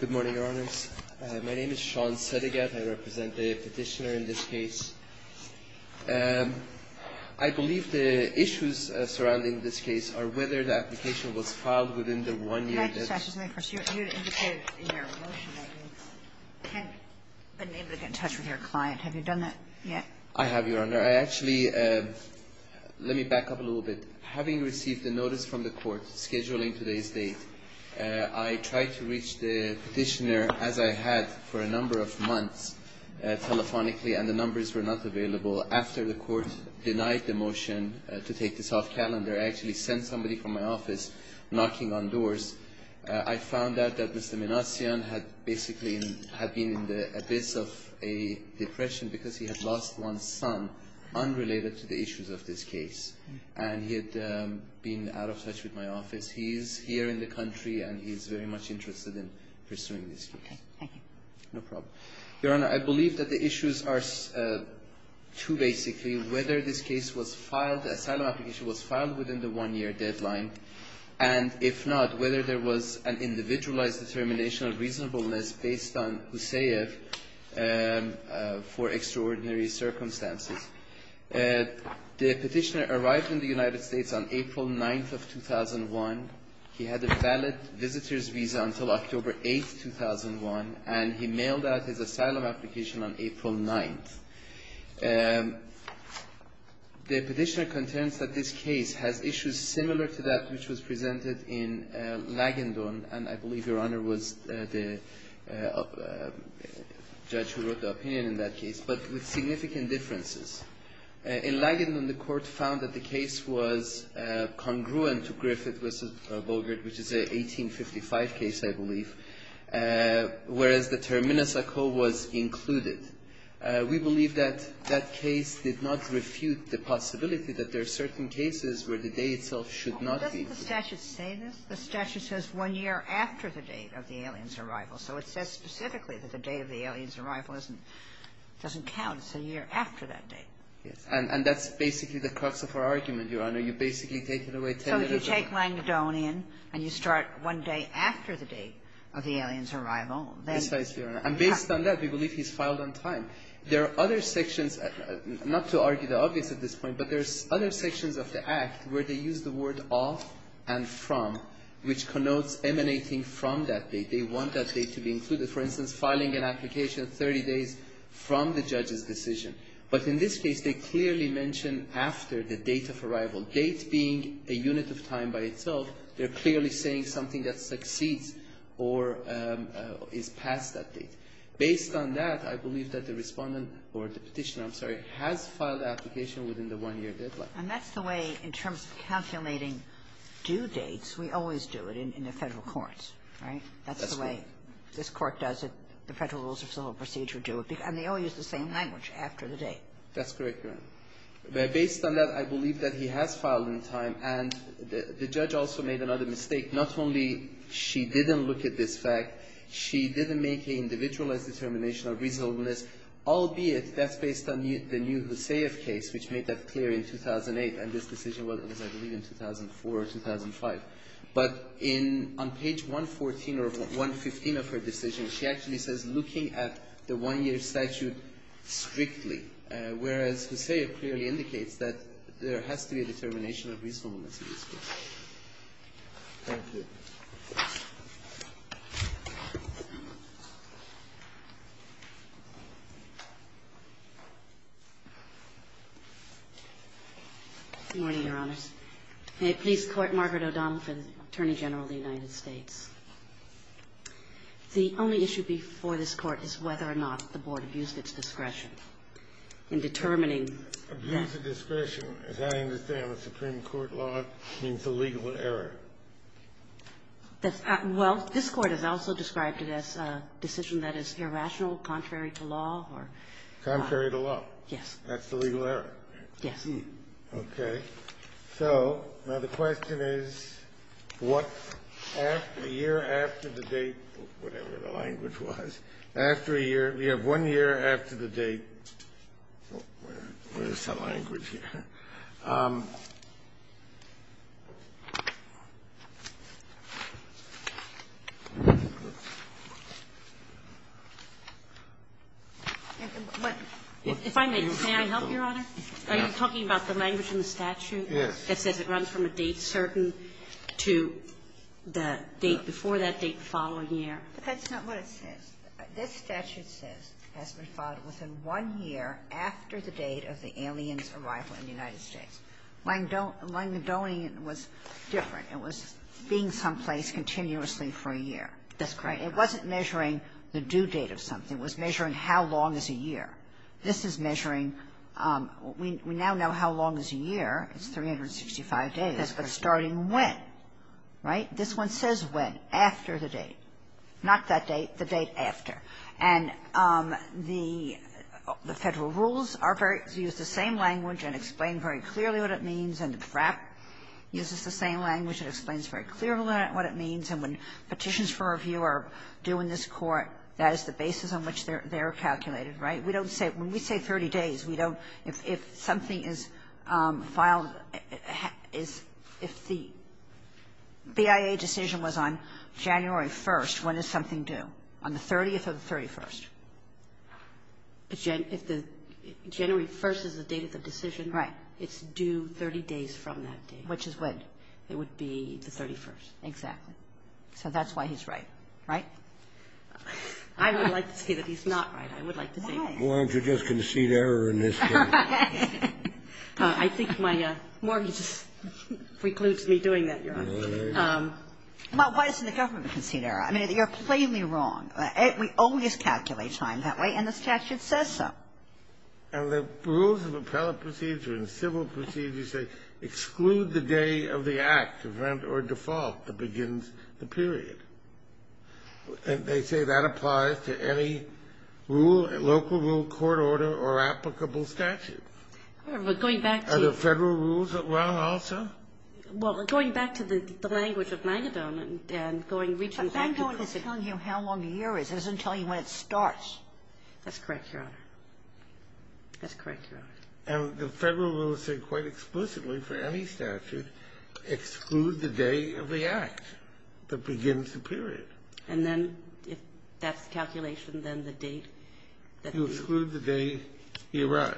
Good morning, Your Honors. My name is Sean Sedigat. I represent the Petitioner in this case. I believe the issues surrounding this case are whether the application was filed within the one year that You indicated in your motion that you had been able to get in touch with your client. Have you done that yet? I have, Your Honor. I actually, let me back up a little bit. Having received a notice from the court scheduling today's date, I tried to reach the Petitioner, as I had for a number of months, telephonically, and the numbers were not available. After the court denied the motion to take this off calendar, I actually sent somebody from my office knocking on doors. I found out that Mr. Manasyan had basically been in the abyss of a depression because he had lost one son, unrelated to the issues of this case. And he had been out of touch with my office. He's here in the country, and he's very much interested in pursuing this case. Okay. Thank you. No problem. Your Honor, I believe that the issues are two, basically. Whether this case was filed, the asylum application was filed within the one-year deadline, and if not, whether there was an individualized determination of reasonableness based on Huseyev for extraordinary circumstances. The Petitioner arrived in the United States on April 9th of 2001. He had a valid visitor's visa until October 8th, 2001, and he mailed out his asylum application on April 9th. The Petitioner contends that this case has issues similar to that which was presented in Lagandon, and I believe Your Honor was the judge who wrote the opinion in that case, but with significant differences. In Lagandon, the Court found that the case was congruent to Griffith v. Bogert, which is an 1855 case, I believe, whereas the term Minnesotco was included. We believe that that case did not refute the possibility that there are certain cases where the day itself should not be included. The statute says one year after the date of the alien's arrival, so it says specifically that the day of the alien's arrival doesn't count. It's a year after that date. Yes. And that's basically the crux of our argument, Your Honor. You basically take it away 10 years from now. So you take Lagandonian and you start one day after the date of the alien's arrival. Precisely, Your Honor. And based on that, we believe he's filed on time. There are other sections, not to argue the obvious at this point, but there's other sections of the Act where they use the word of and from, which connotes emanating from that date. They want that date to be included. For instance, filing an application 30 days from the judge's decision. But in this case, they clearly mention after the date of arrival, date being a unit of time by itself. They're clearly saying something that succeeds or is past that date. Based on that, I believe that the Respondent or the Petitioner, I'm sorry, has filed the application within the one-year deadline. And that's the way, in terms of calculating due dates, we always do it in the Federal courts, right? That's the way this Court does it. The Federal Rules of Civil Procedure do it. And they all use the same language, after the date. That's correct, Your Honor. Based on that, I believe that he has filed on time. And the judge also made another mistake. Not only she didn't look at this fact, she didn't make an individualized determination of reasonableness, albeit that's based on the new Hussayev case, which made that clear in 2008, and this decision was, I believe, in 2004 or 2005. But on page 114 or 115 of her decision, she actually says looking at the one-year statute strictly, whereas Hussayev clearly indicates that there has to be a determination of reasonableness in this case. Thank you. Good morning, Your Honors. May it please Court, Margaret O'Donnell for the Attorney General of the United States. The only issue before this Court is whether or not the Board abused its discretion in determining that. Abuse of discretion, as I understand the Supreme Court law, means a legal error. Well, this Court has also described it as a decision that is irrational, contrary to law. Contrary to law. Yes. That's the legal error. Yes. Okay. So now the question is what after a year after the date, whatever the language was, after a year, we have one year after the date. Where is that language here? If I may, may I help you, Your Honor? Yes. Are you talking about the language in the statute? Yes. That says it runs from a date certain to the date before that date the following year. That's not what it says. This statute says has been filed within one year after the date of the alien's arrival in the United States. Langdonian was different. It was being someplace continuously for a year. That's correct. It wasn't measuring the due date of something. It was measuring how long is a year. This is measuring we now know how long is a year. It's 365 days. That's correct. But starting when, right? This one says when, after the date. Not that date. The date after. And the Federal rules are very, use the same language and explain very clearly what it means. And the FRAP uses the same language and explains very clearly what it means. And when petitions for review are due in this Court, that is the basis on which they're calculated. Right? We don't say, when we say 30 days, we don't, if something is filed, if the BIA decision was on January 1st, when is something due? On the 30th or the 31st? If the January 1st is the date of the decision. Right. It's due 30 days from that date. Which is when? It would be the 31st. Exactly. So that's why he's right, right? I would like to say that he's not right. I would like to say that. Why? Well, aren't you just going to cede error in this case? I think my mortgage precludes me doing that, Your Honor. Well, why isn't the government conceding error? I mean, you're plainly wrong. We always calculate time that way, and the statute says so. And the rules of appellate procedure and civil procedure say exclude the day of the act, event, or default that begins the period. And they say that applies to any rule, local rule, court order, or applicable statute. We're going back to the federal rules that run also? Well, we're going back to the language of Mangadon and going, reaching back to the But Mangadon is telling you how long a year is. It doesn't tell you when it starts. That's correct, Your Honor. That's correct, Your Honor. And the federal rules say quite explicitly for any statute, exclude the day of the act that begins the period. And then if that's the calculation, then the date that the date. You exclude the day he arrived.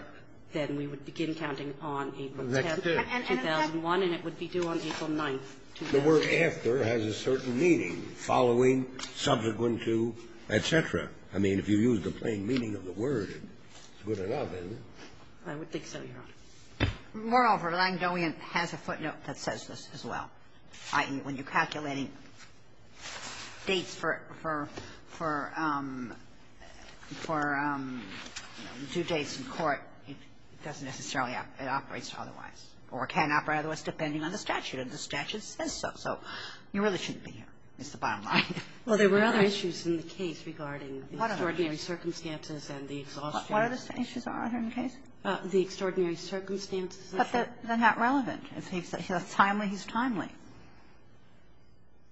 Then we would begin counting on April 10th. The next day. 2001, and it would be due on April 9th. The word after has a certain meaning. Following, subsequent to, et cetera. I mean, if you use the plain meaning of the word, it's good enough, isn't it? I would think so, Your Honor. Moreover, Langdonian has a footnote that says this as well, i.e., when you're calculating dates for due dates in court, it doesn't necessarily operate otherwise or cannot operate otherwise depending on the statute. And the statute says so. So you really shouldn't be here, is the bottom line. Well, there were other issues in the case regarding the extraordinary circumstances and the exhaustion. What other issues are there in the case? The extraordinary circumstances. But they're not relevant. If he's timely, he's timely.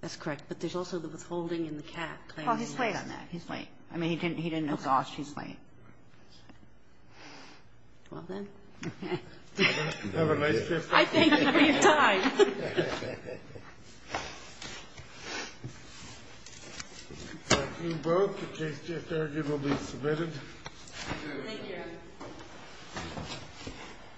That's correct. But there's also the withholding and the cap. Well, he's late on that. He's late. I mean, he didn't exhaust. He's late. Well, then. Have a nice day. I thank you for your time. Thank you both. The case just arguably submitted. Thank you, Your Honor.